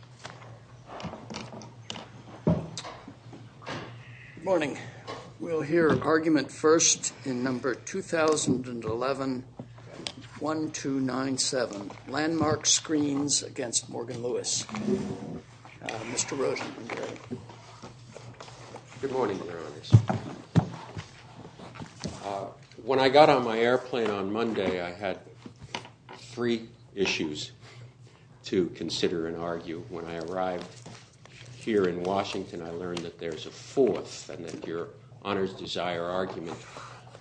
Good morning. We'll hear argument first in No. 2011-1297, Landmark Screens against Morgan Lewis. Mr. Rosenberg. MR. ROSENBERG Good morning, Your Honors. When I got on my airplane on Monday, I had three issues to consider and argue. When I arrived here in Washington, I learned that there's a fourth and then your Honor's Desire argument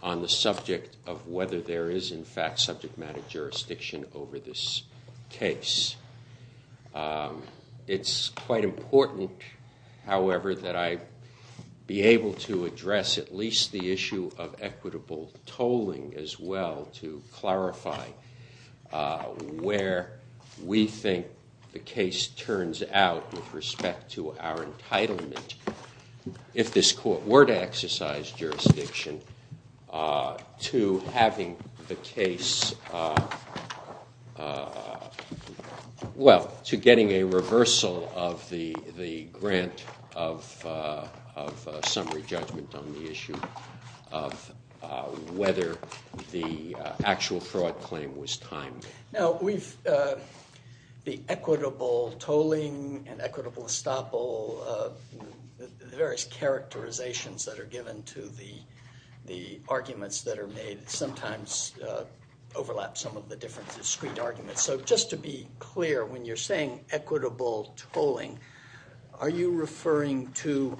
on the subject of whether there is in fact subject matter jurisdiction over this case. It's quite important, however, that I be able to address at least the issue of equitable tolling as well to clarify where we think the case turns out with respect to our entitlement. If this court were to exercise jurisdiction to having the case, well, to getting a reversal of the grant of summary judgment on the issue of whether the actual fraud claim was timed. Now, the equitable tolling and equitable estoppel, the various characterizations that are given to the arguments that are made sometimes overlap some of the different discrete arguments. So just to be clear, when you're saying equitable tolling, are you referring to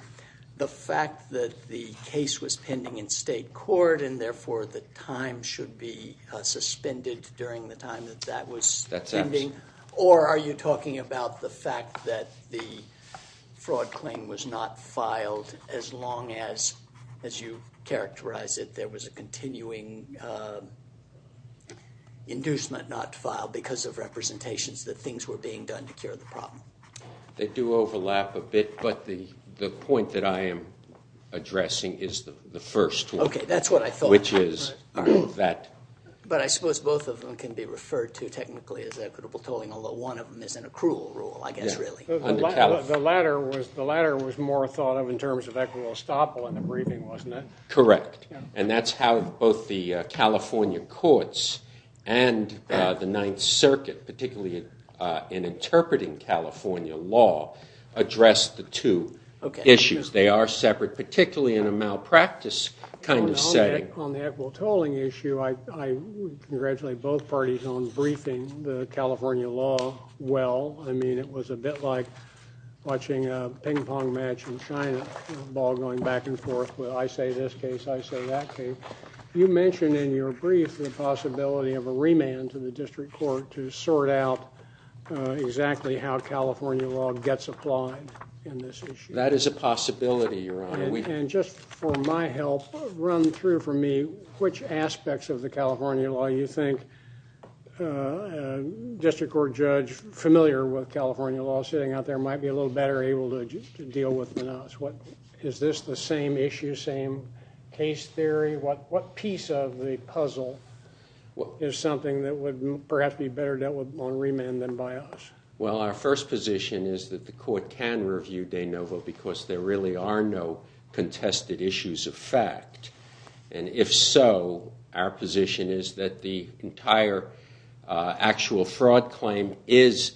the fact that the case was pending in state court and therefore the time should be suspended during the time that that was pending? Or are you talking about the fact that the fraud claim was not filed as long as, as you characterize it, there was a continuing inducement not filed because of representations that things were being done to cure the problem? They do overlap a bit, but the point that I am addressing is the first one. Okay, that's what I thought. Which is that. But I suppose both of them can be referred to technically as equitable tolling, although one of them is an accrual rule, I guess, really. The latter was more thought of in terms of equitable estoppel in the briefing, wasn't it? Correct. And that's how both the California courts and the Ninth Circuit, particularly in interpreting California law, address the two issues. They are separate, particularly in a malpractice kind of setting. On the equitable tolling issue, I congratulate both parties on briefing the California law well. I mean, it was a bit like watching a ping pong match in China, the ball going back and forth. I say this case, I say that case. You mentioned in your brief the possibility of a remand to the district court to sort out exactly how California law gets applied in this issue. That is a possibility, Your Honor. And just for my help, run through for me which aspects of the California law you think a district court judge familiar with California law sitting out there might be a little better able to deal with than us. Is this the same issue, same case theory? What piece of the puzzle is something that would perhaps be better dealt with on remand than by us? Well, our first position is that the court can review de novo because there really are no contested issues of fact. And if so, our position is that the entire actual fraud claim is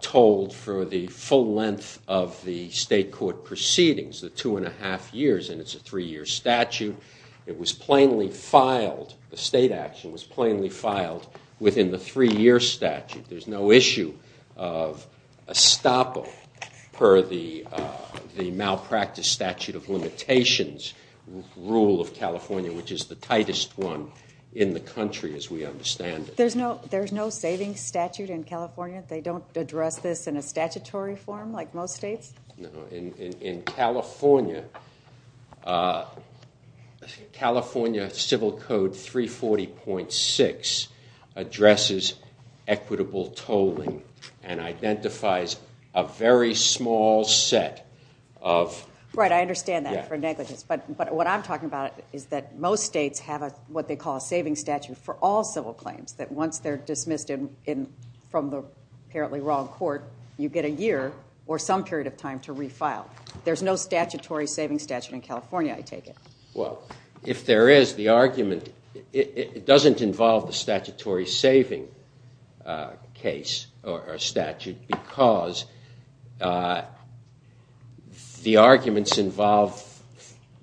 told for the full length of the state court proceedings, the two and a half years. And it's a three-year statute. It was plainly filed. The state action was plainly filed within the three-year statute. There's no issue of estoppel per the malpractice statute of limitations rule of California, which is the tightest one in the country as we understand it. There's no savings statute in California? They don't address this in a statutory form like most states? In California, California Civil Code 340.6 addresses equitable tolling and identifies a very small set of- Right, I understand that for negligence. But what I'm talking about is that most states have what they call a savings statute for all civil claims, that once they're dismissed from the apparently wrong court, you get a year or some period of time to refile. There's no statutory savings statute in California, I take it? Well, if there is, the argument- it doesn't involve the statutory saving case or statute because the arguments involve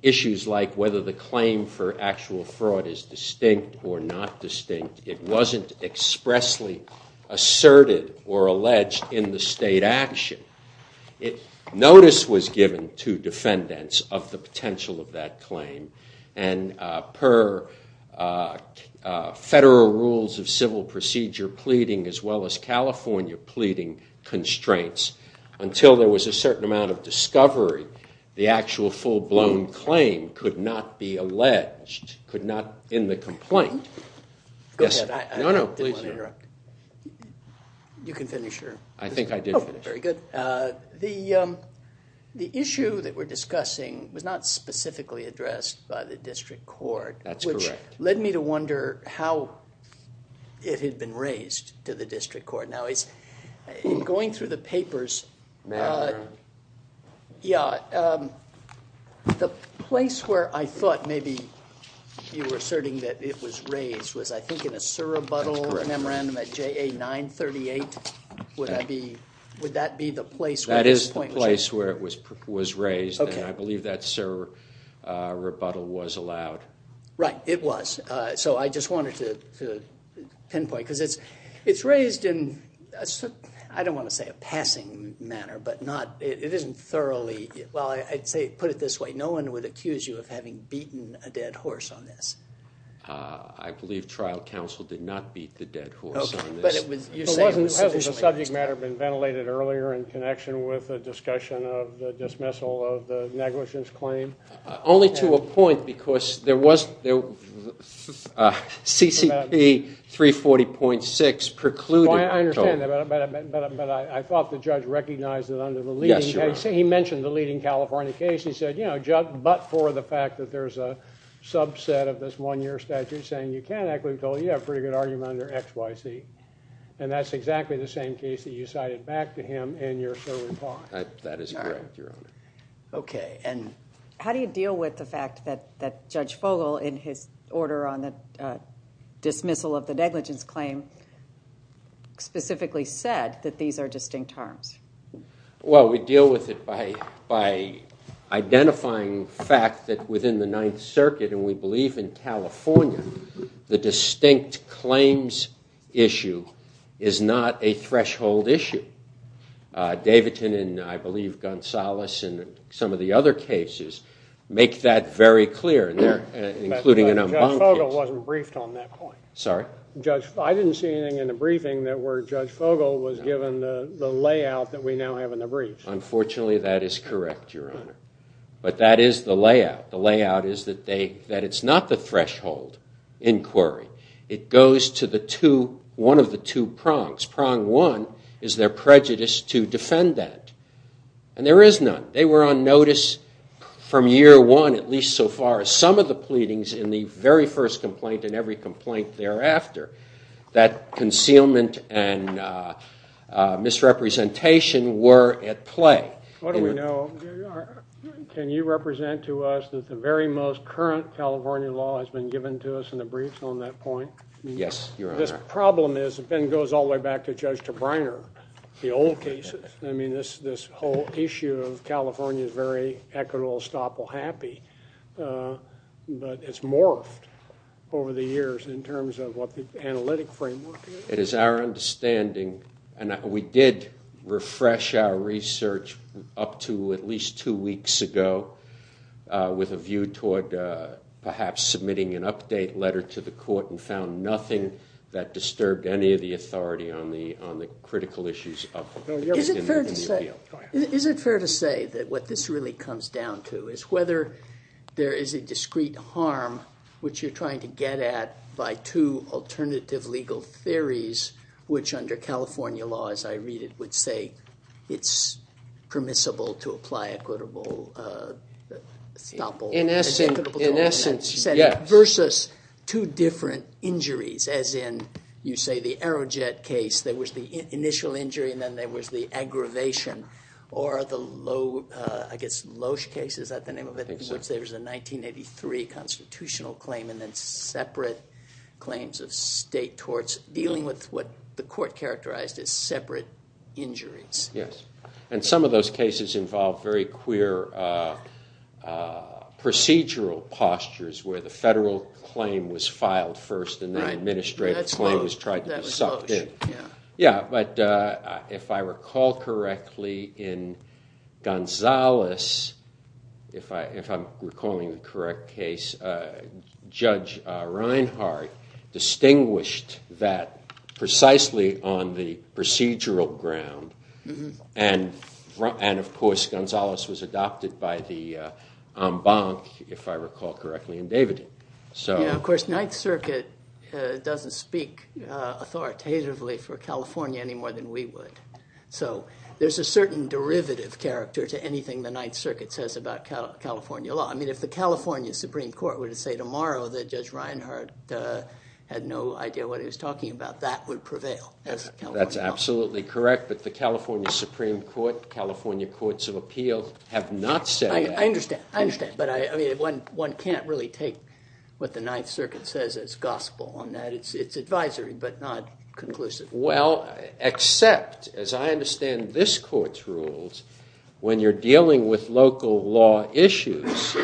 issues like whether the claim for actual fraud is distinct or not distinct. It wasn't expressly asserted or alleged in the state action. Notice was given to defendants of the potential of that claim, and per federal rules of civil procedure pleading as well as California pleading constraints until there was a certain amount of discovery, the actual full-blown claim could not be alleged, could not end the complaint. Go ahead, I didn't want to interrupt. You can finish your- I think I did finish. Very good. The issue that we're discussing was not specifically addressed by the district court. That's correct. Which led me to wonder how it had been raised to the district court. Now, in going through the papers- Memorandum. Yeah, the place where I thought maybe you were asserting that it was raised was I think in a surrebuttal memorandum at JA 938. Would that be the place where this point was raised? That is the place where it was raised, and I believe that surrebuttal was allowed. Right, it was. So I just wanted to pinpoint, because it's raised in, I don't want to say a passing manner, but not- it isn't thoroughly- well, I'd put it this way. No one would accuse you of having beaten a dead horse on this. I believe trial counsel did not beat the dead horse on this. Okay, but it was- Hasn't the subject matter been ventilated earlier in connection with the discussion of the dismissal of the negligence claim? Only to a point, because there was- CCP 340.6 precluded- I understand that, but I thought the judge recognized that under the leading- Yes, Your Honor. He mentioned the leading California case. He said, you know, but for the fact that there's a subset of this one-year statute saying you can't acquit until you have a pretty good argument under X, Y, Z. And that's exactly the same case that you cited back to him in your serving time. That is correct, Your Honor. Okay, and- How do you deal with the fact that Judge Fogle, in his order on the dismissal of the negligence claim, specifically said that these are distinct harms? Well, we deal with it by identifying the fact that within the Ninth Circuit, and we believe in California, the distinct claims issue is not a threshold issue. Davidson and, I believe, Gonzales and some of the other cases make that very clear, and they're- But Judge Fogle wasn't briefed on that point. Sorry? I didn't see anything in the briefing that where Judge Fogle was given the layout that we now have in the briefs. Unfortunately, that is correct, Your Honor. But that is the layout. The layout is that it's not the threshold inquiry. It goes to one of the two prongs. Prong one is their prejudice to defend that, and there is none. They were on notice from year one, at least so far as some of the pleadings in the very first complaint and every complaint thereafter, that concealment and misrepresentation were at play. What do we know? Can you represent to us that the very most current California law has been given to us in the briefs on that point? Yes, Your Honor. This problem is, it then goes all the way back to Judge Tabriner, the old cases. I mean, this whole issue of California is very equitable, estoppel, happy, but it's morphed over the years in terms of what the analytic framework is. It is our understanding, and we did refresh our research up to at least two weeks ago with a view toward perhaps submitting an update letter to the court and found nothing that disturbed any of the authority on the critical issues. Is it fair to say that what this really comes down to is whether there is a discrete harm, which you're trying to get at by two alternative legal theories, which under California law, as I read it, would say it's permissible to apply equitable estoppel. In essence, yes. Versus two different injuries, as in, you say, the Aerojet case, there was the initial injury and then there was the aggravation, or the Loesch case, is that the name of it, in which there was a 1983 constitutional claim and then separate claims of state torts, dealing with what the court characterized as separate injuries. Yes, and some of those cases involve very queer procedural postures where the federal claim was filed first and the administrative claim was tried to be sucked in. Yeah, but if I recall correctly, in Gonzales, if I'm recalling the correct case, Judge Reinhart distinguished that precisely on the procedural ground and, of course, Gonzales was adopted by the en banc, if I recall correctly, and David did. Yeah, of course, Ninth Circuit doesn't speak authoritatively for California any more than we would. So there's a certain derivative character to anything the Ninth Circuit says about California law. I mean, if the California Supreme Court were to say tomorrow that Judge Reinhart had no idea what he was talking about, that would prevail as California law. That's absolutely correct, but the California Supreme Court, California Courts of Appeal have not said that. I understand, I understand, but one can't really take what the Ninth Circuit says as gospel on that. It's advisory, but not conclusive. Well, except, as I understand this court's rules, when you're dealing with local law issues,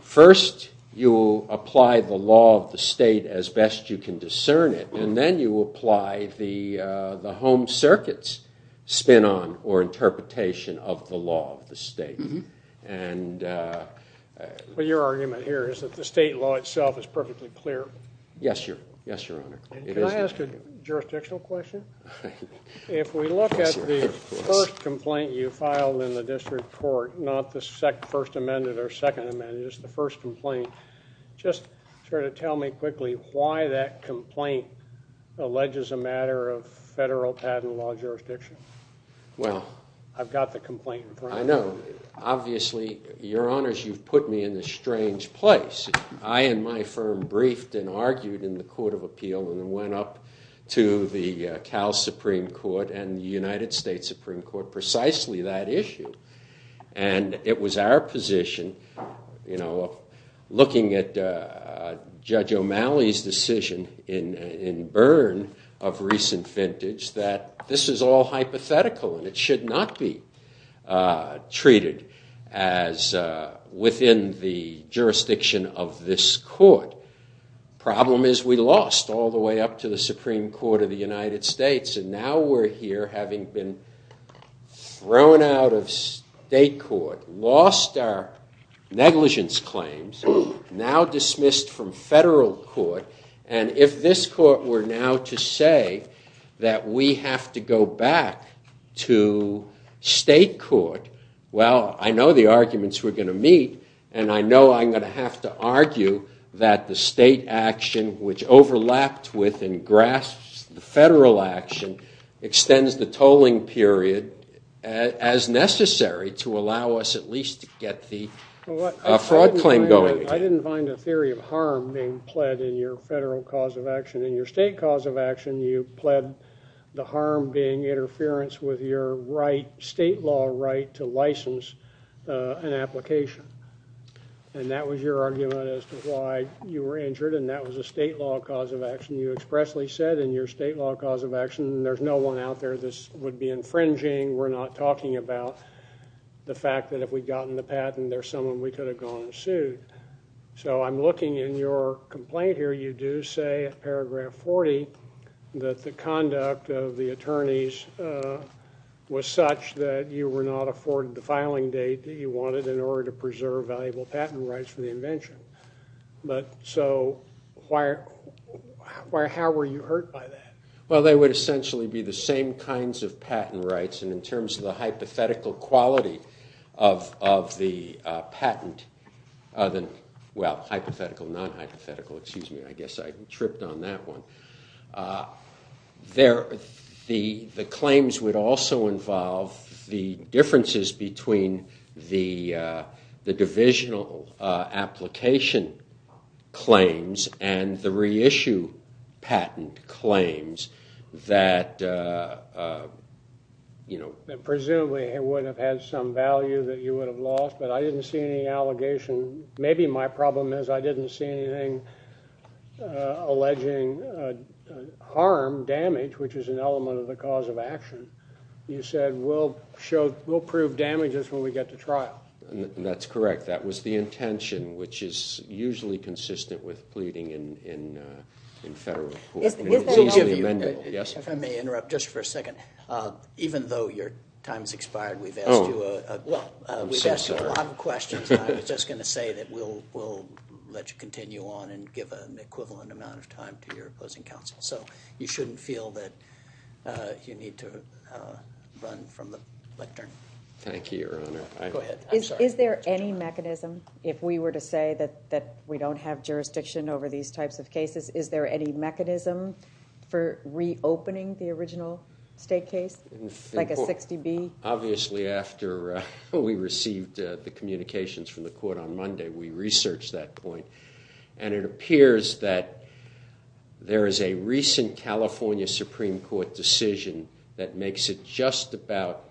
first you apply the law of the state as best you can discern it, and then you apply the home circuit's spin on or interpretation of the law of the state. But your argument here is that the state law itself is perfectly clear. Yes, Your Honor. Can I ask a jurisdictional question? If we look at the first complaint you filed in the district court, not the First Amendment or Second Amendment, just the first complaint, just sort of tell me quickly why that complaint alleges a matter of federal patent law jurisdiction. I've got the complaint in front of me. I know. Obviously, Your Honors, you've put me in this strange place. I and my firm briefed and argued in the Court of Appeal and went up to the Cal Supreme Court and the United States Supreme Court precisely that issue. And it was our position, looking at Judge O'Malley's decision in Byrne of recent vintage, that this is all hypothetical and it should not be treated as within the jurisdiction of this court. Problem is we lost all the way up to the Supreme Court of the United States, and now we're here having been thrown out of state court, lost our negligence claims, now dismissed from federal court. And if this court were now to say that we have to go back to state court, well, I know the arguments we're going to meet, and I know I'm going to have to argue that the state action, which overlapped with and grasps the federal action, extends the tolling period as necessary to allow us at least to get the fraud claim going. I didn't find a theory of harm being pled in your federal cause of action. In your state cause of action, you pled the harm being interference with your state law right to license an application. And that was your argument as to why you were injured, and that was a state law cause of action. You expressly said in your state law cause of action, there's no one out there this would be infringing, we're not talking about the fact that if we'd gotten the patent, there's someone we could have gone and sued. So I'm looking in your complaint here, you do say in paragraph 40, that the conduct of the attorneys was such that you were not afforded the filing date that you wanted in order to preserve valuable patent rights for the invention. So how were you hurt by that? Well, they would essentially be the same kinds of patent rights, and in terms of the hypothetical quality of the patent, well, hypothetical, non-hypothetical, excuse me, I guess I tripped on that one. The claims would also involve the differences between the divisional application claims and the reissue patent claims that, you know... Presumably it would have had some value that you would have lost, but I didn't see any allegation. Maybe my problem is I didn't see anything alleging harm, damage, which is an element of the cause of action. You said we'll prove damages when we get to trial. That's correct. That was the intention, which is usually consistent with pleading in federal court. If I may interrupt just for a second. Even though your time has expired, we've asked you a lot of questions. I was just going to say that we'll let you continue on and give an equivalent amount of time to your opposing counsel. So you shouldn't feel that you need to run from the lectern. Thank you, Your Honor. Is there any mechanism, if we were to say that we don't have jurisdiction over these types of cases, is there any mechanism for reopening the original state case, like a 60B? Obviously after we received the communications from the court on Monday, we researched that point. And it appears that there is a recent California Supreme Court decision that makes it just about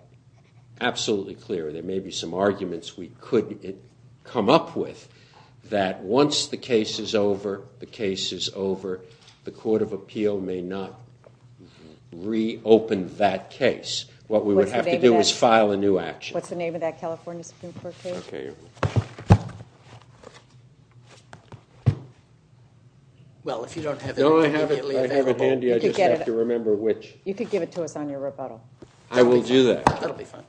absolutely clear, there may be some arguments we could come up with, that once the case is over, the case is over, the court of appeal may not reopen that case. What we would have to do is file a new action. What's the name of that California Supreme Court case? Okay. Well, if you don't have it immediately available. No, I have it handy. I just have to remember which. You could give it to us on your rebuttal. I will do that. That will be fine.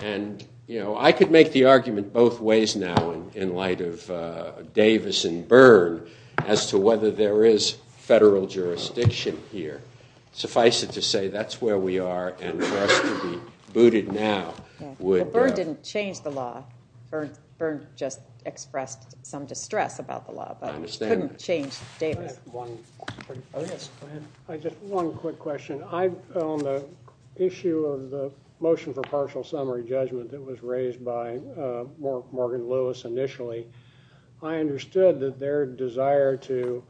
And, you know, I could make the argument both ways now in light of Davis and Byrne as to whether there is federal jurisdiction here. Suffice it to say that's where we are and for us to be booted now would. Well, Byrne didn't change the law. Byrne just expressed some distress about the law. I understand that. But he couldn't change Davis. I have one quick question. On the issue of the motion for partial summary judgment that was raised by Morgan Lewis initially, I understood that their desire to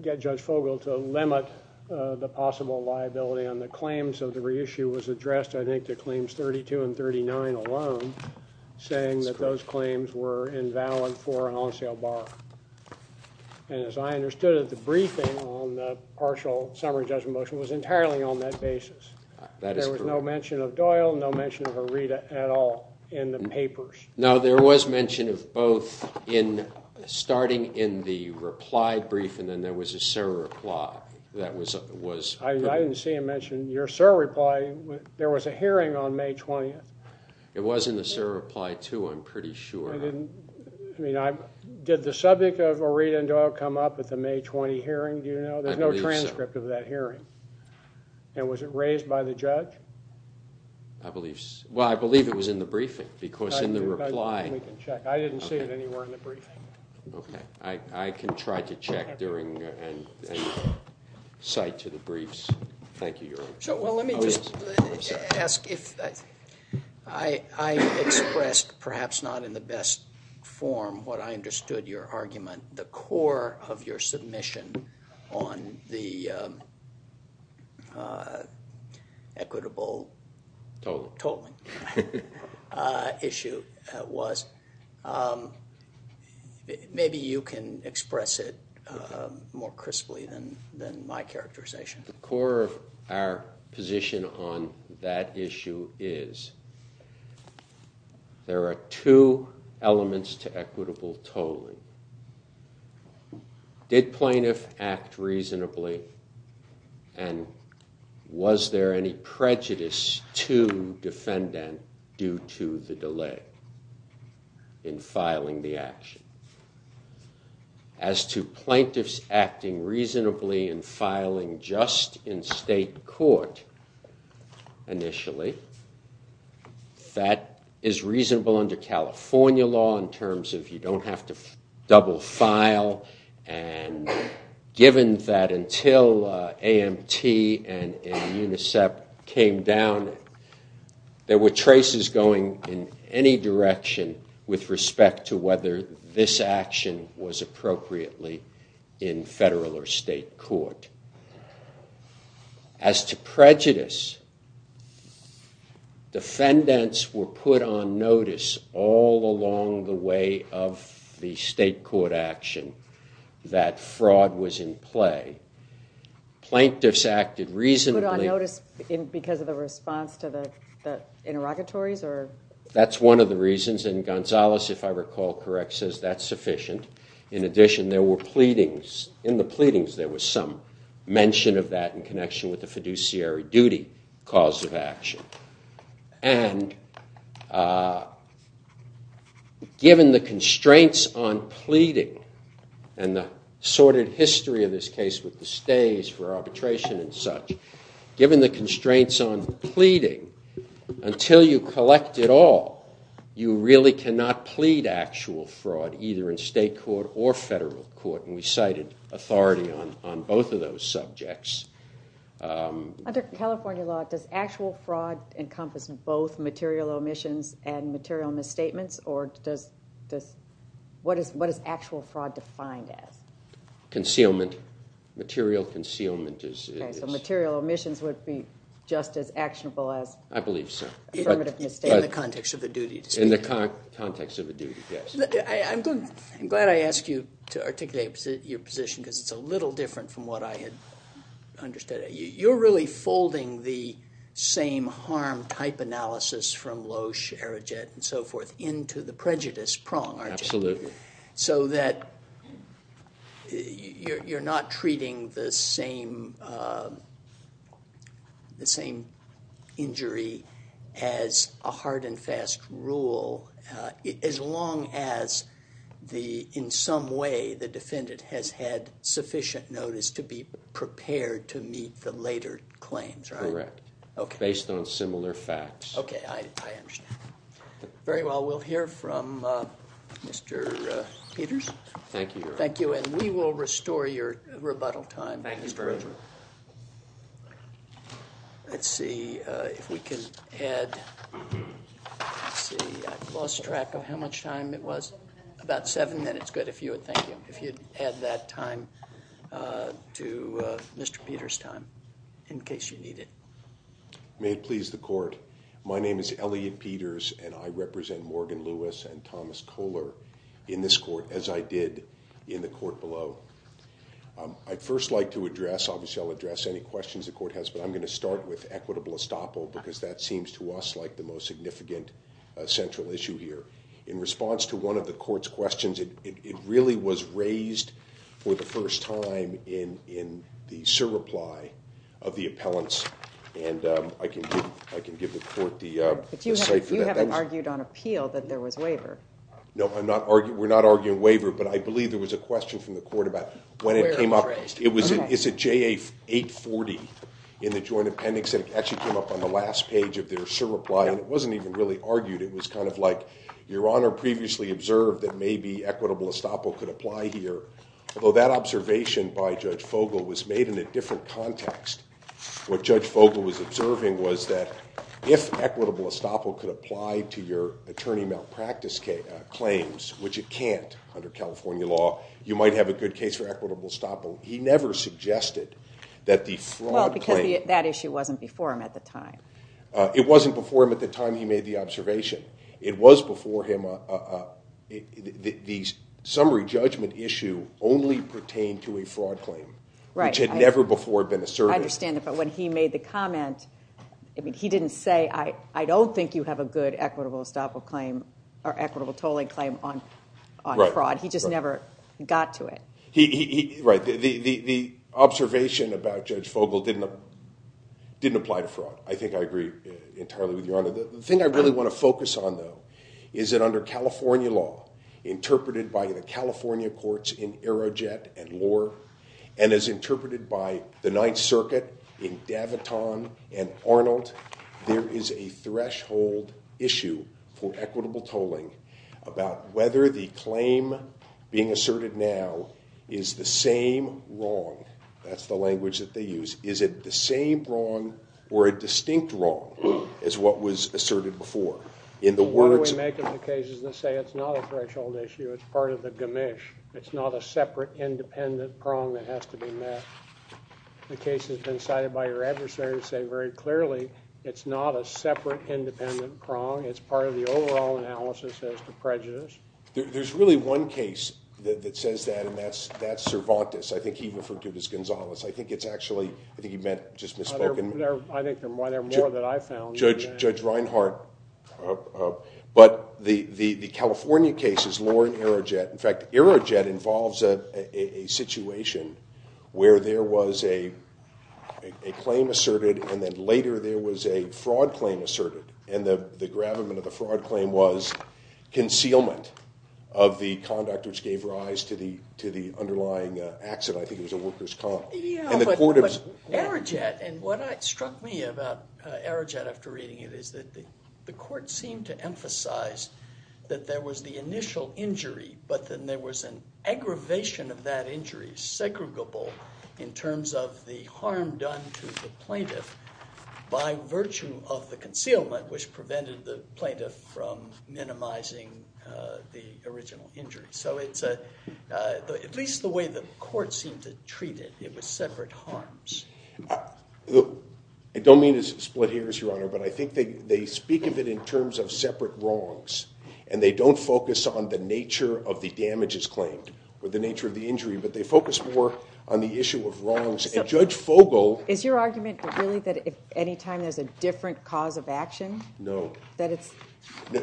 get Judge Fogle to limit the possible liability on the claims of the reissue was addressed, I think, to claims 32 and 39 alone, saying that those claims were invalid for an on-sale bar. And as I understood it, the briefing on the partial summary judgment motion was entirely on that basis. That is correct. There was no mention of Doyle, no mention of Herita at all in the papers. No, there was mention of both in starting in the reply brief and then there was a surreply that was put. I didn't see it mentioned. Your surreply, there was a hearing on May 20th. It was in the surreply, too, I'm pretty sure. Did the subject of Herita and Doyle come up at the May 20 hearing? Do you know? There's no transcript of that hearing. And was it raised by the judge? Well, I believe it was in the briefing because in the reply. I didn't see it anywhere in the briefing. Okay. I can try to check during and cite to the briefs. Thank you, Your Honor. Well, let me just ask if I expressed perhaps not in the best form what I understood your argument. The core of your submission on the equitable total issue was. Maybe you can express it more crisply than my characterization. The core of our position on that issue is there are two elements to equitable total. Did plaintiff act reasonably and was there any prejudice to defendant due to the delay in filing the action? As to plaintiffs acting reasonably and filing just in state court initially, that is reasonable under California law in terms of you don't have to double file. And given that until AMT and UNICEF came down, there were traces going in any direction with respect to whether this action was appropriately in federal or state court. As to prejudice, defendants were put on notice all along the way of the state court action that fraud was in play. Plaintiffs acted reasonably. Put on notice because of the response to the interrogatories? That's one of the reasons. And Gonzalez, if I recall correct, says that's sufficient. In addition, there were pleadings. In the pleadings, there was some mention of that in connection with the fiduciary duty cause of action. And given the constraints on pleading and the sordid history of this case with the stays for arbitration and such, given the constraints on pleading, until you collect it all, you really cannot plead actual fraud either in state court or federal court. And we cited authority on both of those subjects. Under California law, does actual fraud encompass both material omissions and material misstatements? Or what is actual fraud defined as? Concealment. Material concealment is... Okay, so material omissions would be just as actionable as... I believe so. ...affirmative misstatement. In the context of the duty. In the context of the duty, yes. I'm glad I asked you to articulate your position because it's a little different from what I had understood. You're really folding the same harm type analysis from Loesch, Arijet, and so forth into the prejudice prong, aren't you? Absolutely. So that you're not treating the same injury as a hard and fast rule as long as, in some way, the defendant has had sufficient notice to be prepared to meet the later claims, right? Correct. Based on similar facts. Okay, I understand. Very well, we'll hear from Mr. Peters. Thank you, Your Honor. Thank you, and we will restore your rebuttal time, Mr. Richard. Thank you very much. Let's see if we can add... Let's see, I've lost track of how much time it was. About seven minutes. About seven minutes. Good. Thank you. If you'd add that time to Mr. Peters' time in case you need it. May it please the court, my name is Elliot Peters, and I represent Morgan Lewis and Thomas Kohler in this court, as I did in the court below. I'd first like to address, obviously I'll address any questions the court has, but I'm going to start with equitable estoppel because that seems to us like the most significant central issue here. In response to one of the court's questions, it really was raised for the first time in the surreply of the appellants, and I can give the court the... But you haven't argued on appeal that there was waiver. No, we're not arguing waiver, but I believe there was a question from the court about when it came up. Where it was raised. It's at JA 840 in the joint appendix, and it actually came up on the last page of their surreply, and it wasn't even really argued. It was kind of like, Your Honor previously observed that maybe equitable estoppel could apply here, although that observation by Judge Fogle was made in a different context. What Judge Fogle was observing was that if equitable estoppel could apply to your attorney malpractice claims, which it can't under California law, you might have a good case for equitable estoppel. He never suggested that the fraud claim... Well, because that issue wasn't before him at the time. It wasn't before him at the time he made the observation. It was before him. The summary judgment issue only pertained to a fraud claim, which had never before been asserted. I understand that, but when he made the comment, he didn't say, I don't think you have a good equitable estoppel claim or equitable tolling claim on fraud. He just never got to it. Right, the observation about Judge Fogle didn't apply to fraud. I think I agree entirely with Your Honor. The thing I really want to focus on, though, is that under California law, interpreted by the California courts in Aerojet and Lohr, and as interpreted by the Ninth Circuit in Daviton and Arnold, there is a threshold issue for equitable tolling about whether the claim being asserted now is the same wrong. That's the language that they use. Is it the same wrong or a distinct wrong as what was asserted before? In the words... Why do we make up the cases and say it's not a threshold issue? It's part of the gamish. It's not a separate, independent prong that has to be met. The case has been cited by your adversary to say very clearly it's not a separate, independent prong. It's part of the overall analysis as to prejudice. There's really one case that says that, and that's Cervantes. I think he referred to it as Gonzales. I think it's actually... I think he meant just misspoken. I think there are more that I found. But the California case is Lohr and Aerojet. In fact, Aerojet involves a situation where there was a claim asserted, and then later there was a fraud claim asserted, and the gravamen of the fraud claim was concealment of the conduct which gave rise to the underlying accident. I think it was a worker's comp. Yeah, but Aerojet, and what struck me about Aerojet after reading it is that the court seemed to emphasize that there was the initial injury, but then there was an aggravation of that injury, segregable in terms of the harm done to the plaintiff by virtue of the concealment, which prevented the plaintiff from minimizing the original injury. So it's at least the way the court seemed to treat it. It was separate harms. I don't mean to split hairs, Your Honor, but I think they speak of it in terms of separate wrongs, and they don't focus on the nature of the damages claimed or the nature of the injury, but they focus more on the issue of wrongs. Judge Fogle... Is your argument really that any time there's a different cause of action? No. That it's...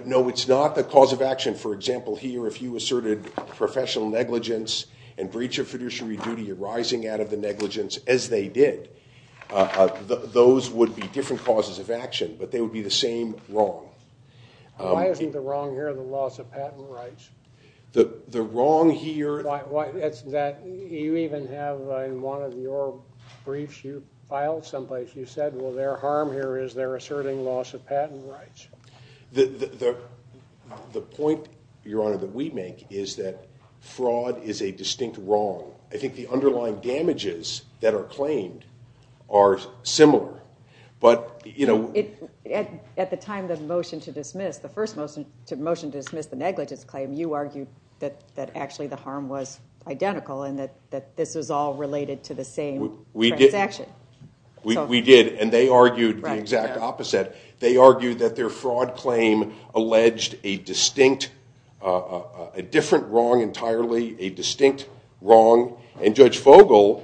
No, it's not the cause of action. For example, here, if you asserted professional negligence and breach of fiduciary duty, you're rising out of the negligence as they did. Those would be different causes of action, but they would be the same wrong. Why isn't the wrong here the loss of patent rights? The wrong here... It's that you even have, in one of your briefs you filed someplace, you said, well, their harm here is they're asserting loss of patent rights. The point, Your Honor, that we make is that fraud is a distinct wrong. I think the underlying damages that are claimed are similar, but, you know... At the time of the motion to dismiss, the first motion to dismiss the negligence claim, you argued that actually the harm was identical and that this was all related to the same transaction. We did, and they argued the exact opposite. They argued that their fraud claim alleged a distinct, a different wrong entirely, a distinct wrong, and Judge Fogel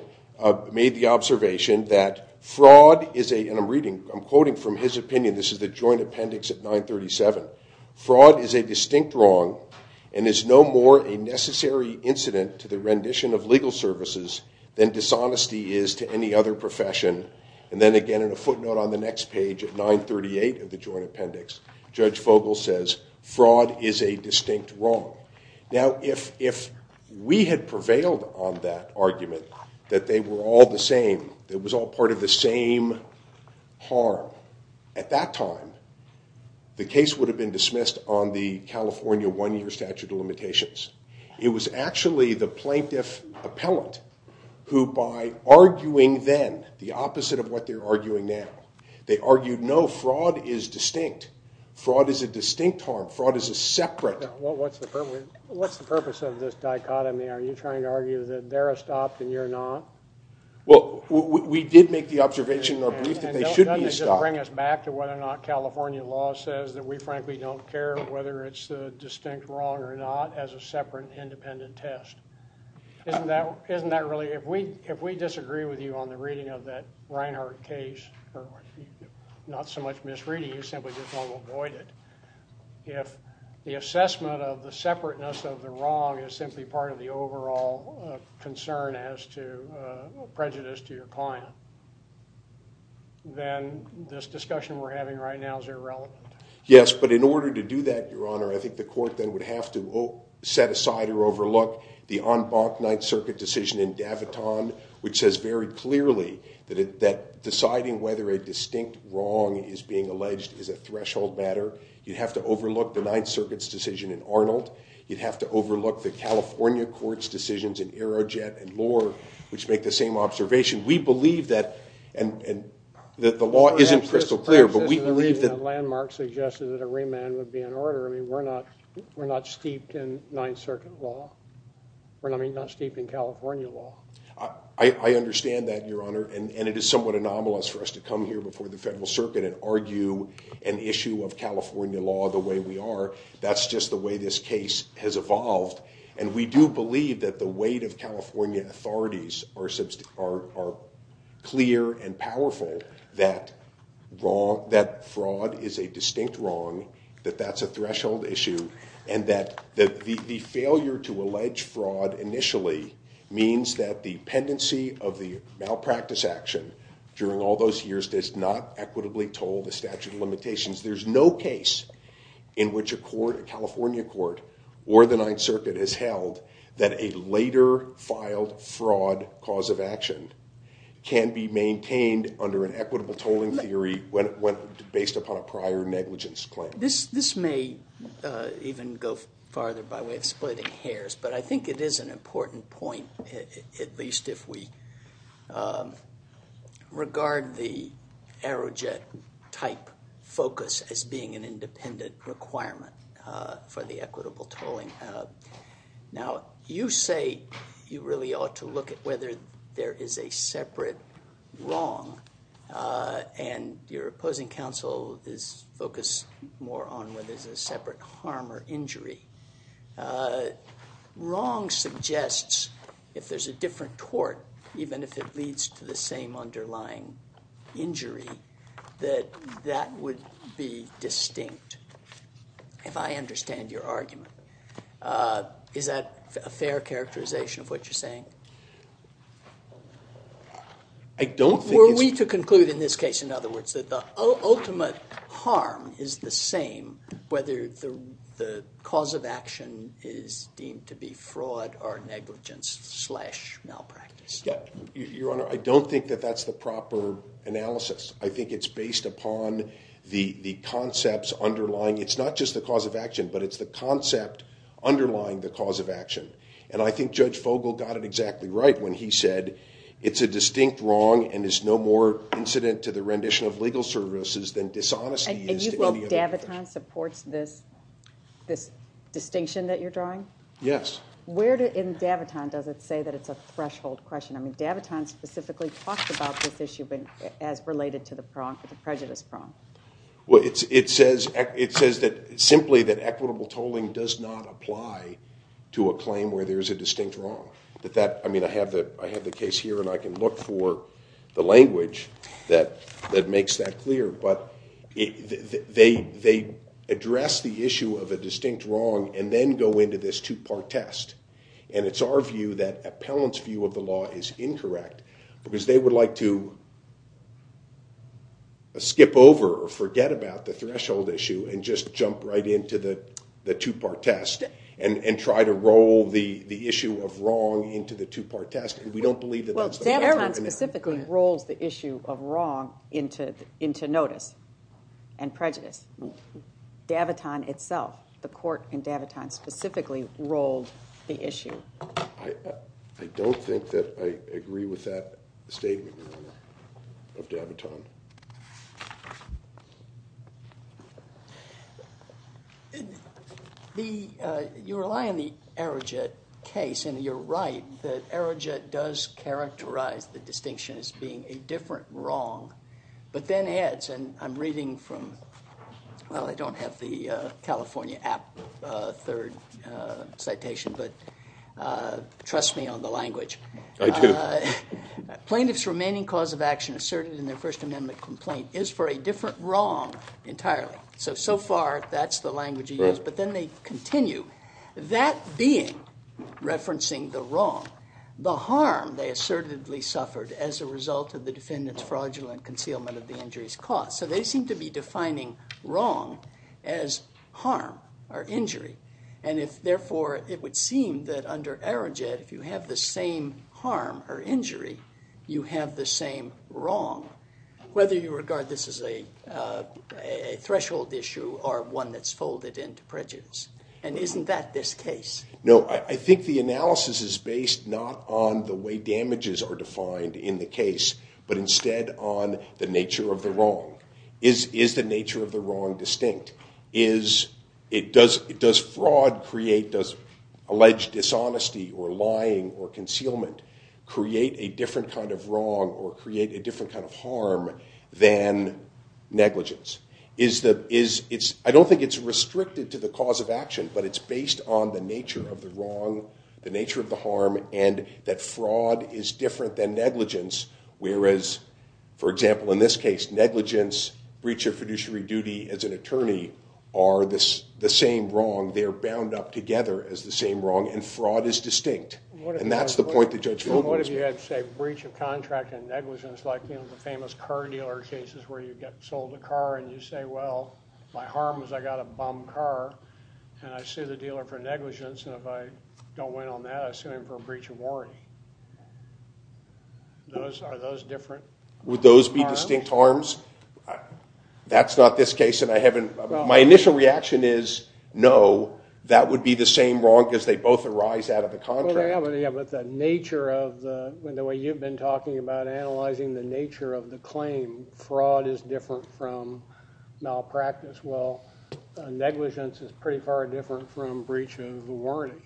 made the observation that fraud is a... And I'm reading, I'm quoting from his opinion. This is the joint appendix at 937. Fraud is a distinct wrong and is no more a necessary incident to the rendition of legal services than dishonesty is to any other profession. And then, again, in a footnote on the next page at 938 of the joint appendix, Judge Fogel says fraud is a distinct wrong. Now, if we had prevailed on that argument that they were all the same, that it was all part of the same harm, at that time, the case would have been dismissed on the California one-year statute of limitations. It was actually the plaintiff appellant who, by arguing then the opposite of what they're arguing now, they argued, no, fraud is distinct. Fraud is a distinct harm. Fraud is a separate... What's the purpose of this dichotomy? Are you trying to argue that they're a stop and you're not? Well, we did make the observation in our brief that they should be a stop. Doesn't it just bring us back to whether or not California law says that we frankly don't care whether it's a distinct wrong or not as a separate independent test? Isn't that really... If we disagree with you on the reading of that Reinhart case, not so much misreading, you simply just want to avoid it. If the assessment of the separateness of the wrong is simply part of the overall concern as to prejudice to your client, then this discussion we're having right now is irrelevant. Yes, but in order to do that, Your Honor, I think the court then would have to set aside or overlook the en banc Ninth Circuit decision in Daviton, which says very clearly that deciding whether a distinct wrong is being alleged is a threshold matter. You'd have to overlook the Ninth Circuit's decision in Arnold. You'd have to overlook the California court's decisions in Aerojet and Lohr, which make the same observation. We believe that... The law isn't crystal clear, but we believe that... ...suggested that a remand would be in order. I mean, we're not steeped in Ninth Circuit law. I mean, not steeped in California law. I understand that, Your Honor, and it is somewhat anomalous for us to come here before the Federal Circuit and argue an issue of California law the way we are. That's just the way this case has evolved, and we do believe that the weight of California authorities are clear and powerful that fraud is a distinct wrong, that that's a threshold issue, and that the failure to allege fraud initially means that the pendency of the malpractice action during all those years does not equitably toll the statute of limitations. There's no case in which a California court or the Ninth Circuit has held that a later filed fraud cause of action can be maintained under an equitable tolling theory based upon a prior negligence claim. This may even go farther by way of splitting hairs, but I think it is an important point, at least if we regard the Aerojet type focus as being an independent requirement for the equitable tolling. Now, you say you really ought to look at whether there is a separate wrong, and your opposing counsel is focused more on whether there's a separate harm or injury. Wrong suggests, if there's a different tort, even if it leads to the same underlying injury, that that would be distinct, if I understand your argument. Were we to conclude in this case, in other words, that the ultimate harm is the same, whether the cause of action is deemed to be fraud or negligence slash malpractice? Your Honor, I don't think that that's the proper analysis. I think it's based upon the concepts underlying. It's not just the cause of action, but it's the concept underlying the cause of action. I think Judge Fogel got it exactly right when he said, it's a distinct wrong and is no more incident to the rendition of legal services than dishonesty is to any other person. And you feel Daviton supports this distinction that you're drawing? Yes. Where in Daviton does it say that it's a threshold question? Daviton specifically talks about this issue as related to the prejudice prong. It says simply that equitable tolling does not apply to a claim where there is a distinct wrong. I have the case here, and I can look for the language that makes that clear. But they address the issue of a distinct wrong and then go into this two-part test. And it's our view that Appellant's view of the law is incorrect because they would like to skip over or forget about the threshold issue and just jump right into the two-part test and try to roll the issue of wrong into the two-part test. And we don't believe that that's the case. Well, Daviton specifically rolls the issue of wrong into notice and prejudice. Daviton itself, the court in Daviton specifically rolled the issue. I don't think that I agree with that statement, Your Honor, of Daviton. You rely on the Arijet case. And you're right that Arijet does characterize the distinction as being a different wrong. But then adds, and I'm reading from, well, I don't have the California App third citation, but trust me on the language. I do. Plaintiff's remaining cause of action asserted in their First Amendment complaint is for a different wrong entirely. So, so far, that's the language he used. But then they continue. That being, referencing the wrong, the harm they assertedly suffered as a result of the defendant's fraudulent concealment of the injuries caused. So they seem to be defining wrong as harm or injury. And therefore, it would seem that under Arijet, if you have the same harm or injury, you have the same wrong, whether you regard this as a threshold issue or one that's folded into prejudice. And isn't that this case? No. I think the analysis is based not on the way damages are defined in the case, but instead on the nature of the wrong. Is the nature of the wrong distinct? Does fraud create, does alleged dishonesty or lying or concealment create a different kind of wrong or create a different kind of harm than negligence? I don't think it's restricted to the cause of action, but it's based on the nature of the wrong, the nature of the harm, and that fraud is different than negligence, whereas, for example, in this case, negligence, breach of fiduciary duty as an attorney are the same wrong. They're bound up together as the same wrong, and fraud is distinct. And that's the point that Judge Vogel was making. What if you had, say, breach of contract and negligence, like the famous car dealer cases where you get sold a car and you say, well, my harm is I got a bum car, and I sue the dealer for negligence, and if I don't win on that, I sue him for breach of warranty. Are those different harms? Would those be distinct harms? That's not this case, and I haven't. My initial reaction is no, that would be the same wrong because they both arise out of the contract. Yeah, but the nature of the, the way you've been talking about analyzing the nature of the claim, fraud is different from malpractice. Well, negligence is pretty far different from breach of warranty.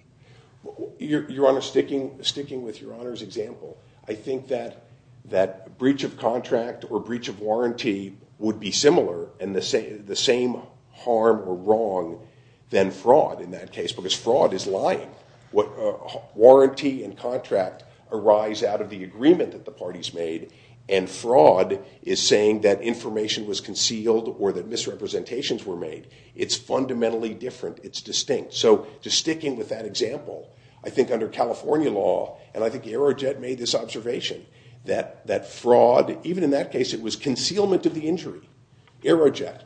Your Honor, sticking with Your Honor's example, I think that breach of contract or breach of warranty would be similar and the same harm or wrong than fraud in that case because fraud is lying. Warranty and contract arise out of the agreement that the parties made, and fraud is saying that information was concealed or that misrepresentations were made. It's fundamentally different. It's distinct. So just sticking with that example, I think under California law, and I think Aerojet made this observation that fraud, even in that case it was concealment of the injury, Aerojet,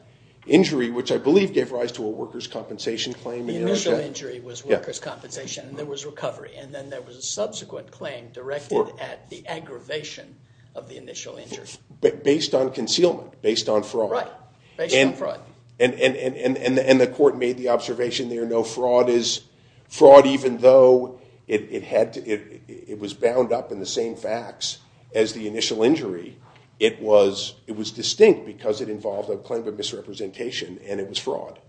injury which I believe gave rise to a workers' compensation claim. The initial injury was workers' compensation and there was recovery, and then there was a subsequent claim directed at the aggravation of the initial injury. Based on concealment, based on fraud. Right, based on fraud. And the court made the observation there, no, fraud is fraud even though it was bound up in the same facts as the initial injury. It was distinct because it involved a claim of misrepresentation and it was fraud.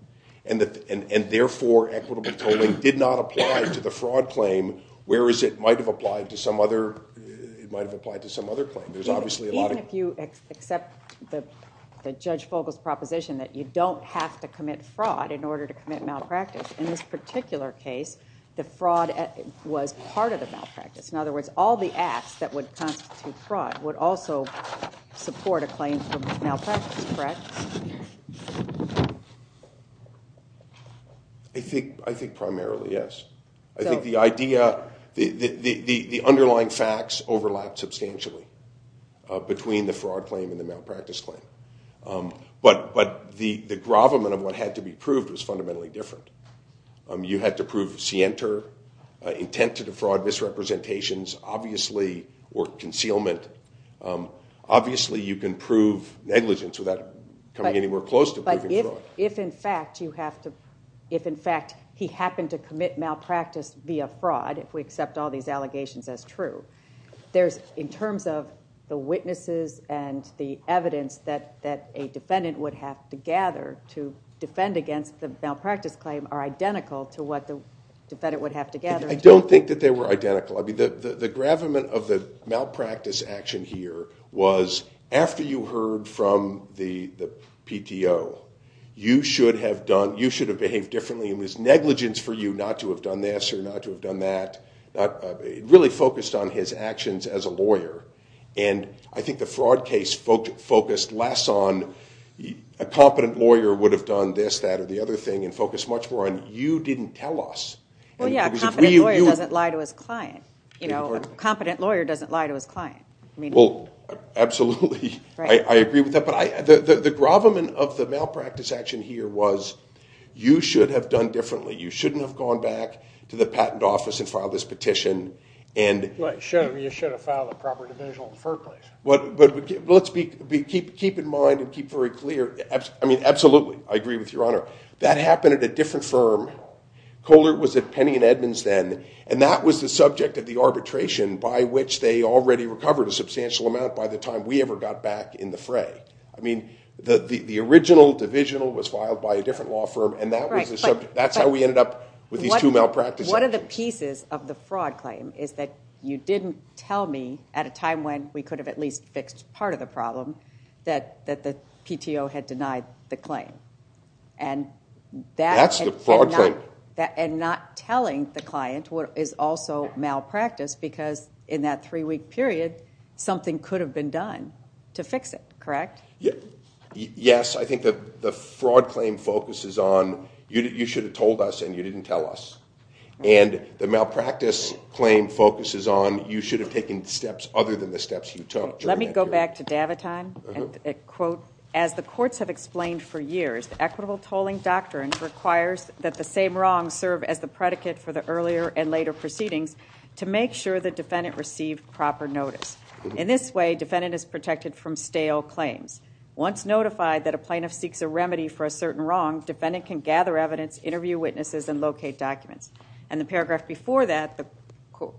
And therefore, equitable tolling did not apply to the fraud claim whereas it might have applied to some other claim. Even if you accept Judge Fogle's proposition that you don't have to commit fraud in order to commit malpractice, in this particular case, the fraud was part of the malpractice. In other words, all the acts that would constitute fraud would also support a claim for malpractice, correct? I think primarily, yes. I think the underlying facts overlap substantially between the fraud claim and the malpractice claim. But the gravamen of what had to be proved was fundamentally different. You had to prove scienter, intent to defraud misrepresentations, obviously, or concealment. Obviously, you can prove negligence without coming anywhere close to proving fraud. If, in fact, he happened to commit malpractice via fraud, if we accept all these allegations as true, in terms of the witnesses and the evidence that a defendant would have to gather to defend against the malpractice claim are identical to what the defendant would have to gather. I don't think that they were identical. The gravamen of the malpractice action here was, after you heard from the PTO, you should have behaved differently. It was negligence for you not to have done this or not to have done that. It really focused on his actions as a lawyer. I think the fraud case focused less on, a competent lawyer would have done this, that, or the other thing, and focused much more on, you didn't tell us. Yeah, a competent lawyer doesn't lie to his client. A competent lawyer doesn't lie to his client. Absolutely, I agree with that. The gravamen of the malpractice action here was, you should have done differently. You shouldn't have gone back to the patent office and filed this petition. You should have filed a proper division on the first place. Let's keep in mind and keep very clear. Absolutely, I agree with Your Honor. That happened at a different firm. Kohler was at Penny and Edmonds then, and that was the subject of the arbitration by which they already recovered a substantial amount by the time we ever got back in the fray. The original divisional was filed by a different law firm, and that was the subject. That's how we ended up with these two malpractice actions. One of the pieces of the fraud claim is that you didn't tell me, at a time when we could have at least fixed part of the problem, that the PTO had denied the claim. That's the fraud claim. Not telling the client is also malpractice because in that three-week period, something could have been done to fix it, correct? Yes, I think the fraud claim focuses on, you should have told us and you didn't tell us. The malpractice claim focuses on, you should have taken steps other than the steps you took. Let me go back to Daviton. As the courts have explained for years, the equitable tolling doctrine requires that the same wrongs serve as the predicate for the earlier and later proceedings to make sure the defendant received proper notice. In this way, defendant is protected from stale claims. Once notified that a plaintiff seeks a remedy for a certain wrong, defendant can gather evidence, interview witnesses, and locate documents. The paragraph before that,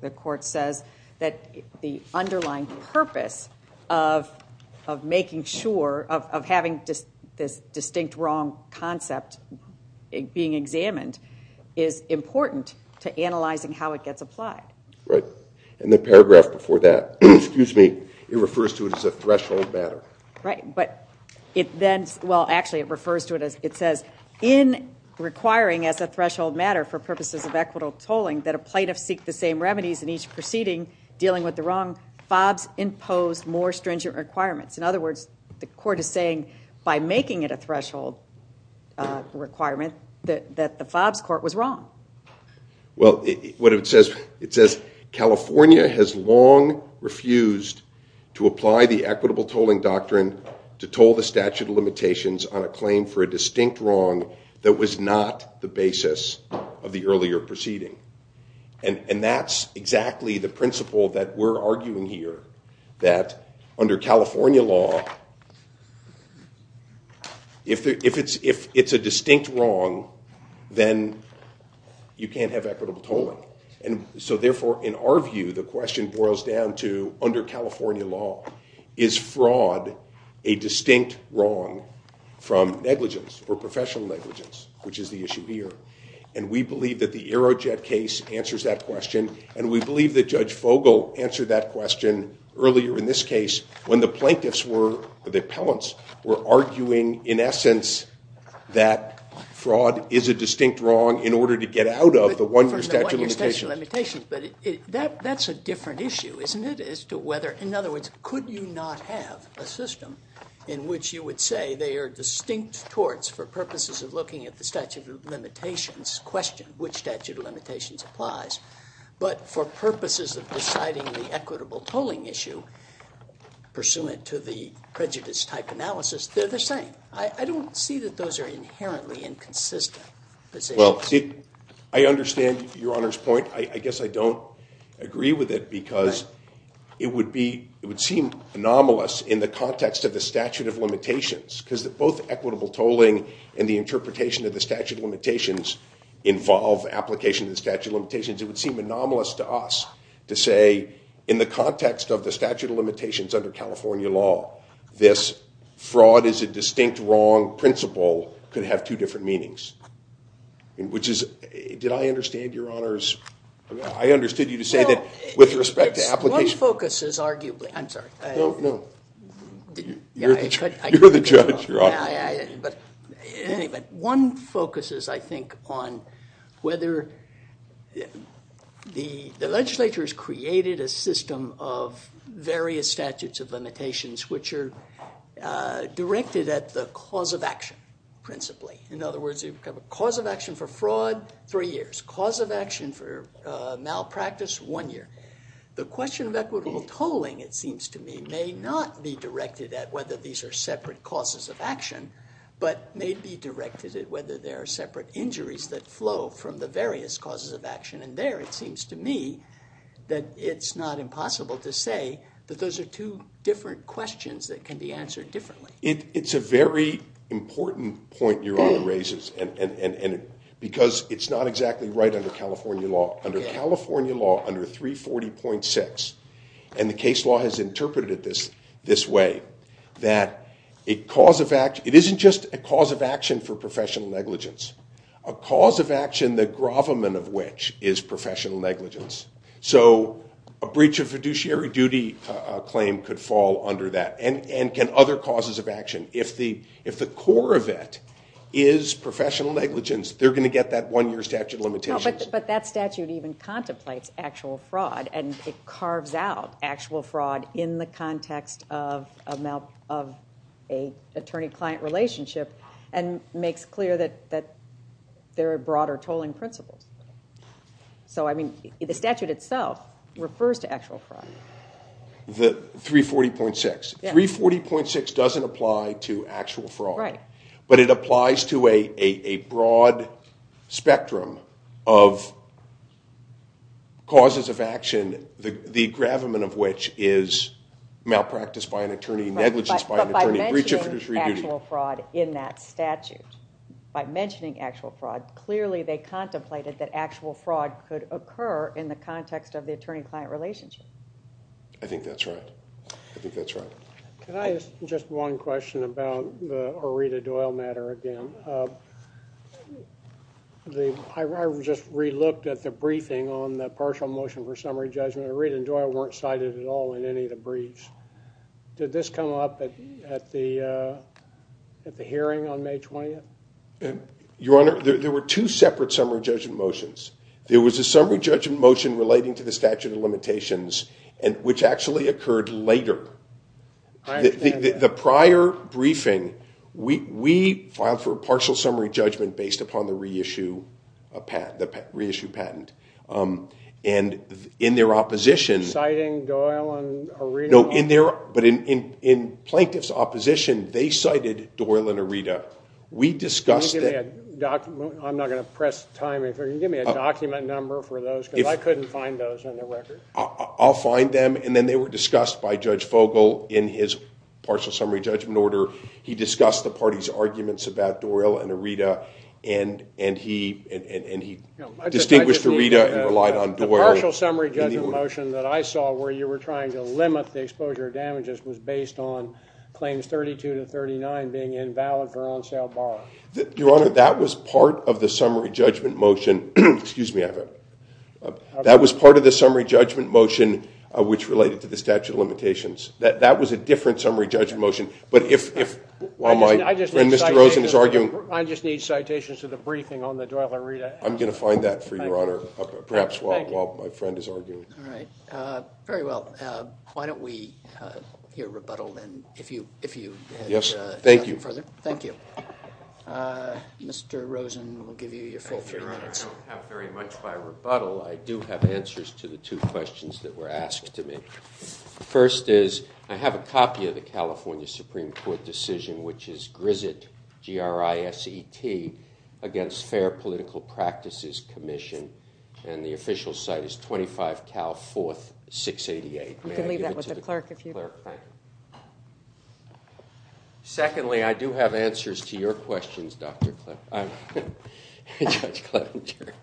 the court says, that the underlying purpose of making sure, of having this distinct wrong concept being examined, is important to analyzing how it gets applied. In the paragraph before that, it refers to it as a threshold matter. Actually, it refers to it as, it says, in requiring as a threshold matter for purposes of equitable tolling, that a plaintiff seek the same remedies in each proceeding, dealing with the wrong, FOBs impose more stringent requirements. In other words, the court is saying, by making it a threshold requirement, that the FOBs court was wrong. Well, what it says, it says, California has long refused to apply the equitable tolling doctrine to toll the statute of limitations on a claim for a distinct wrong that was not the basis of the earlier proceeding. And that's exactly the principle that we're arguing here, that under California law, if it's a distinct wrong, then you can't have equitable tolling. And so therefore, in our view, the question boils down to, under California law, is fraud a distinct wrong from negligence, or professional negligence, which is the issue here. And we believe that the Aerojet case answers that question, and we believe that Judge Fogel answered that question earlier in this case, when the plaintiffs were, the appellants, were arguing, in essence, that fraud is a distinct wrong in order to get out of the one-year statute of limitations. But that's a different issue, isn't it, as to whether, in other words, could you not have a system in which you would say they are distinct torts for purposes of looking at the statute of limitations, question which statute of limitations applies, but for purposes of deciding the equitable tolling issue, pursuant to the prejudice-type analysis, they're the same. I don't see that those are inherently inconsistent positions. Well, I understand Your Honor's point. I guess I don't agree with it, because it would seem anomalous in the context of the statute of limitations, because both equitable tolling and the interpretation of the statute of limitations involve application of the statute of limitations. It would seem anomalous to us to say, in the context of the statute of limitations under California law, this fraud is a distinct wrong principle could have two different meanings. Did I understand Your Honor's... I understood you to say that with respect to application... One focus is arguably... I'm sorry. You're the judge, Your Honor. One focus is, I think, on whether the legislature has created a system of various statutes of limitations, which are directed at the cause of action, principally. In other words, you have a cause of action for fraud, three years. Cause of action for malpractice, one year. The question of equitable tolling, it seems to me, may not be directed at whether these are separate causes of action, but may be directed at whether there are separate injuries that flow from the various causes of action. And there, it seems to me, that it's not impossible to say that those are two different questions that can be answered differently. It's a very important point Your Honor raises, because it's not exactly right under California law. Under California law, under 340.6, and the case law has interpreted it this way, that it isn't just a cause of action for professional negligence. A cause of action, the gravamen of which, is professional negligence. So, a breach of fiduciary duty claim could fall under that. And can other causes of action. If the core of it is professional negligence, they're going to get that one year statute of limitations. But that statute even contemplates actual fraud, and it carves out actual fraud in the context of an attorney-client relationship, and makes clear that there are broader tolling principles. So, I mean, the statute itself refers to actual fraud. The 340.6. 340.6 doesn't apply to actual fraud. Right. But it applies to a broad spectrum of causes of action, the gravamen of which is malpractice by an attorney, negligence by an attorney, breach of fiduciary duty. And it mentions actual fraud in that statute. By mentioning actual fraud, clearly they contemplated that actual fraud could occur in the context of the attorney-client relationship. I think that's right. I think that's right. Can I ask just one question about the Aretha Doyle matter again? I just re-looked at the briefing on the partial motion for summary judgment. Aretha and Doyle weren't cited at all in any of the briefs. Did this come up at the hearing on May 20th? Your Honor, there were two separate summary judgment motions. There was a summary judgment motion relating to the statute of limitations, which actually occurred later. I understand that. The prior briefing, we filed for a partial summary judgment based upon the reissue patent. And in their opposition – Citing Doyle and Aretha? No, but in Plaintiff's opposition, they cited Doyle and Aretha. Can you give me a document number for those? Because I couldn't find those on the record. I'll find them. And then they were discussed by Judge Fogel in his partial summary judgment order. He discussed the party's arguments about Doyle and Aretha. And he distinguished Aretha and relied on Doyle. The partial summary judgment motion that I saw, where you were trying to limit the exposure of damages, was based on claims 32 to 39 being invalid for on-sale borrowing. Your Honor, that was part of the summary judgment motion, which related to the statute of limitations. That was a different summary judgment motion. I just need citations of the briefing on the Doyle and Aretha. I'm going to find that for you, Your Honor. Perhaps while my friend is arguing. All right. Very well. Why don't we hear rebuttal, then, if you had something further. Yes. Thank you. Thank you. Mr. Rosen, we'll give you your full three minutes. Your Honor, I don't have very much by rebuttal. I do have answers to the two questions that were asked to me. The first is, I have a copy of the California Supreme Court decision, which is GRISET, G-R-I-S-E-T, against Fair Political Practices Commission, and the official site is 25 Cal 4th, 688. You can leave that with the clerk if you'd like. Thank you. Secondly, I do have answers to your questions, Judge Clevenger.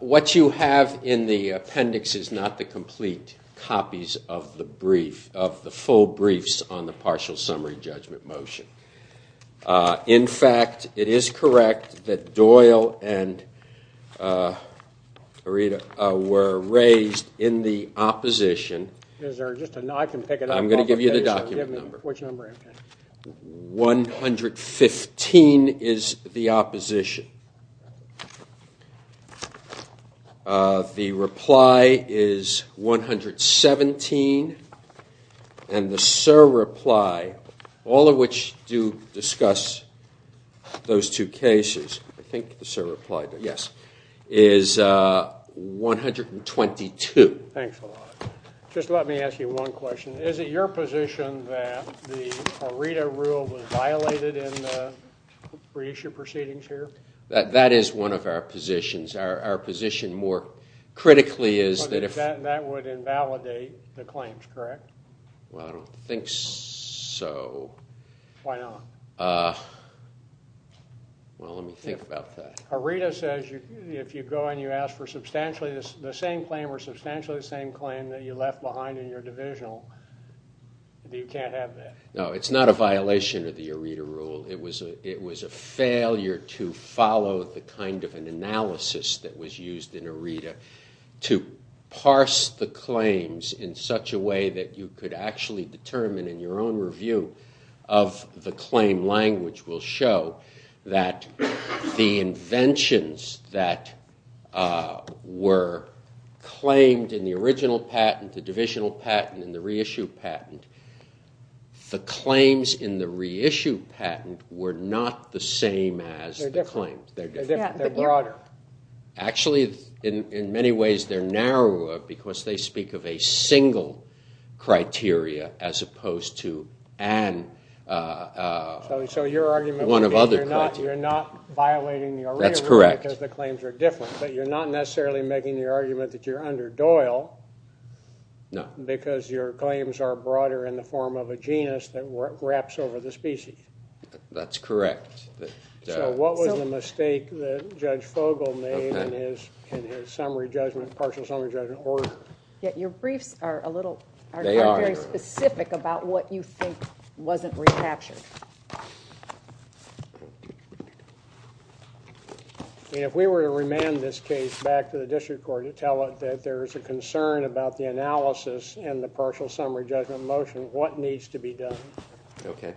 What you have in the appendix is not the complete copies of the brief, on the partial summary judgment motion. In fact, it is correct that Doyle and Arita were raised in the opposition. I can pick it up. I'm going to give you the document number. Which number? 115 is the opposition. The reply is 117. And the surreply, all of which do discuss those two cases, I think the surreply did, yes, is 122. Thanks a lot. Just let me ask you one question. Is it your position that the Arita rule was violated in the reissue proceedings here? That is one of our positions. Our position more critically is that if- That would invalidate the claims, correct? Well, I don't think so. Why not? Well, let me think about that. Arita says if you go and you ask for substantially the same claim or substantially the same claim that you left behind in your divisional, you can't have that. No, it's not a violation of the Arita rule. It was a failure to follow the kind of an analysis that was used in Arita to parse the claims in such a way that you could actually determine in your own review of the claim language will show that the inventions that were claimed in the original patent, the divisional patent, and the reissue patent, the claims in the reissue patent were not the same as the claims. They're different. They're different. They're broader. Actually, in many ways, they're narrower because they speak of a single criteria as opposed to one of other criteria. So your argument would be you're not violating the Arita rule because the claims are different, but you're not necessarily making the argument that you're under Doyle because your claims are broader in the form of a genus that wraps over the species. That's correct. So what was the mistake that Judge Fogle made in his summary judgment, partial summary judgment order? Your briefs are a little very specific about what you think wasn't recaptured. If we were to remand this case back to the district court and tell it that there's a concern about the analysis and the partial summary judgment motion, what needs to be done? Okay.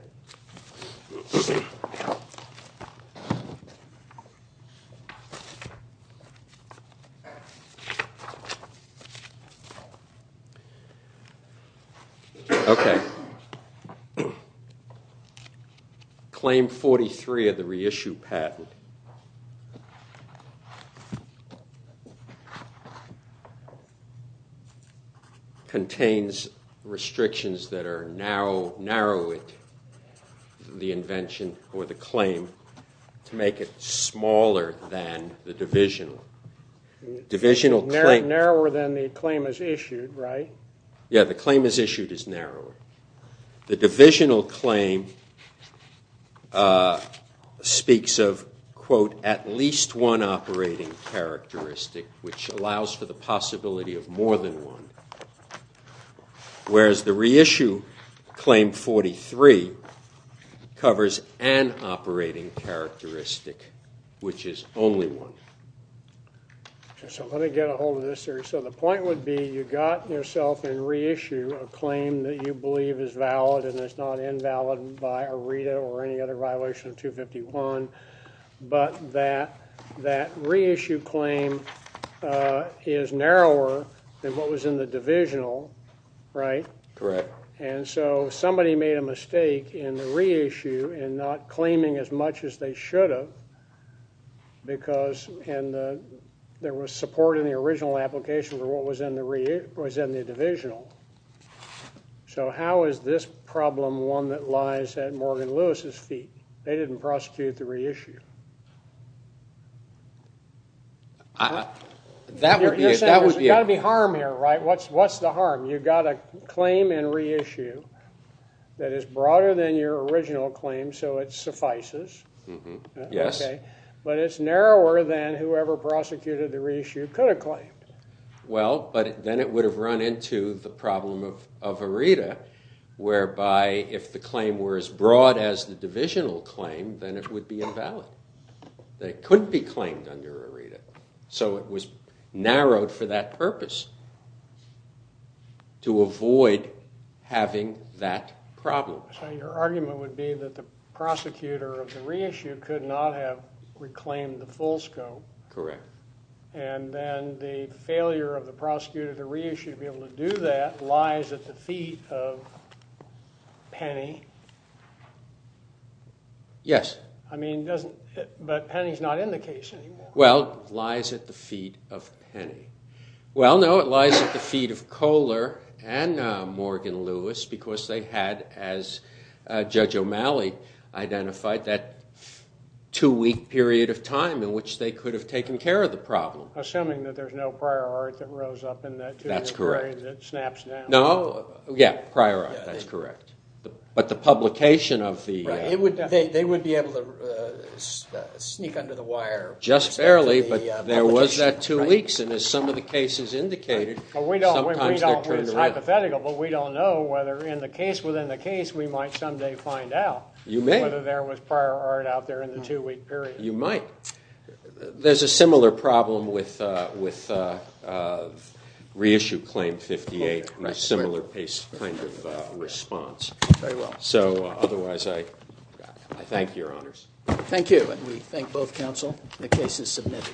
Okay. Claim 43 of the reissue patent. Contains restrictions that are now narrowing the invention or the claim to make it smaller than the divisional. Narrower than the claim is issued, right? Yeah, the claim is issued as narrow. The divisional claim speaks of, quote, at least one operating characteristic, which allows for the possibility of more than one. Whereas the reissue claim 43 covers an operating characteristic, which is only one. So let me get a hold of this here. So the point would be you got yourself in reissue a claim that you believe is valid and is not invalid by ARITA or any other violation of 251, but that reissue claim is narrower than what was in the divisional, right? Correct. And so somebody made a mistake in the reissue in not claiming as much as they should have because there was support in the original application for what was in the divisional. So how is this problem one that lies at Morgan Lewis' feet? They didn't prosecute the reissue. You're saying there's got to be harm here, right? What's the harm? You've got a claim in reissue that is broader than your original claim, so it suffices. But it's narrower than whoever prosecuted the reissue could have claimed. Well, but then it would have run into the problem of ARITA, whereby if the claim were as broad as the divisional claim, then it would be invalid. It couldn't be claimed under ARITA. So it was narrowed for that purpose to avoid having that problem. So your argument would be that the prosecutor of the reissue could not have reclaimed the full scope. Correct. And then the failure of the prosecutor of the reissue to be able to do that lies at the feet of Penny. Yes. I mean, but Penny's not in the case anymore. Well, lies at the feet of Penny. Well, no, it lies at the feet of Kohler and Morgan Lewis because they had, as Judge O'Malley identified, that two-week period of time in which they could have taken care of the problem. Assuming that there's no prior ARITA that rose up in that two-week period that snaps down. No. Yeah, prior ARITA. That's correct. But the publication of the- They would be able to sneak under the wire. Just barely, but there was that two weeks, and as some of the cases indicated, sometimes they're turned around. It's hypothetical, but we don't know whether within the case we might someday find out- You may. Whether there was prior ARITA out there in the two-week period. You might. There's a similar problem with reissue claim 58, a similar kind of response. Very well. So, otherwise, I thank your honors. Thank you, and we thank both counsel. The case is submitted.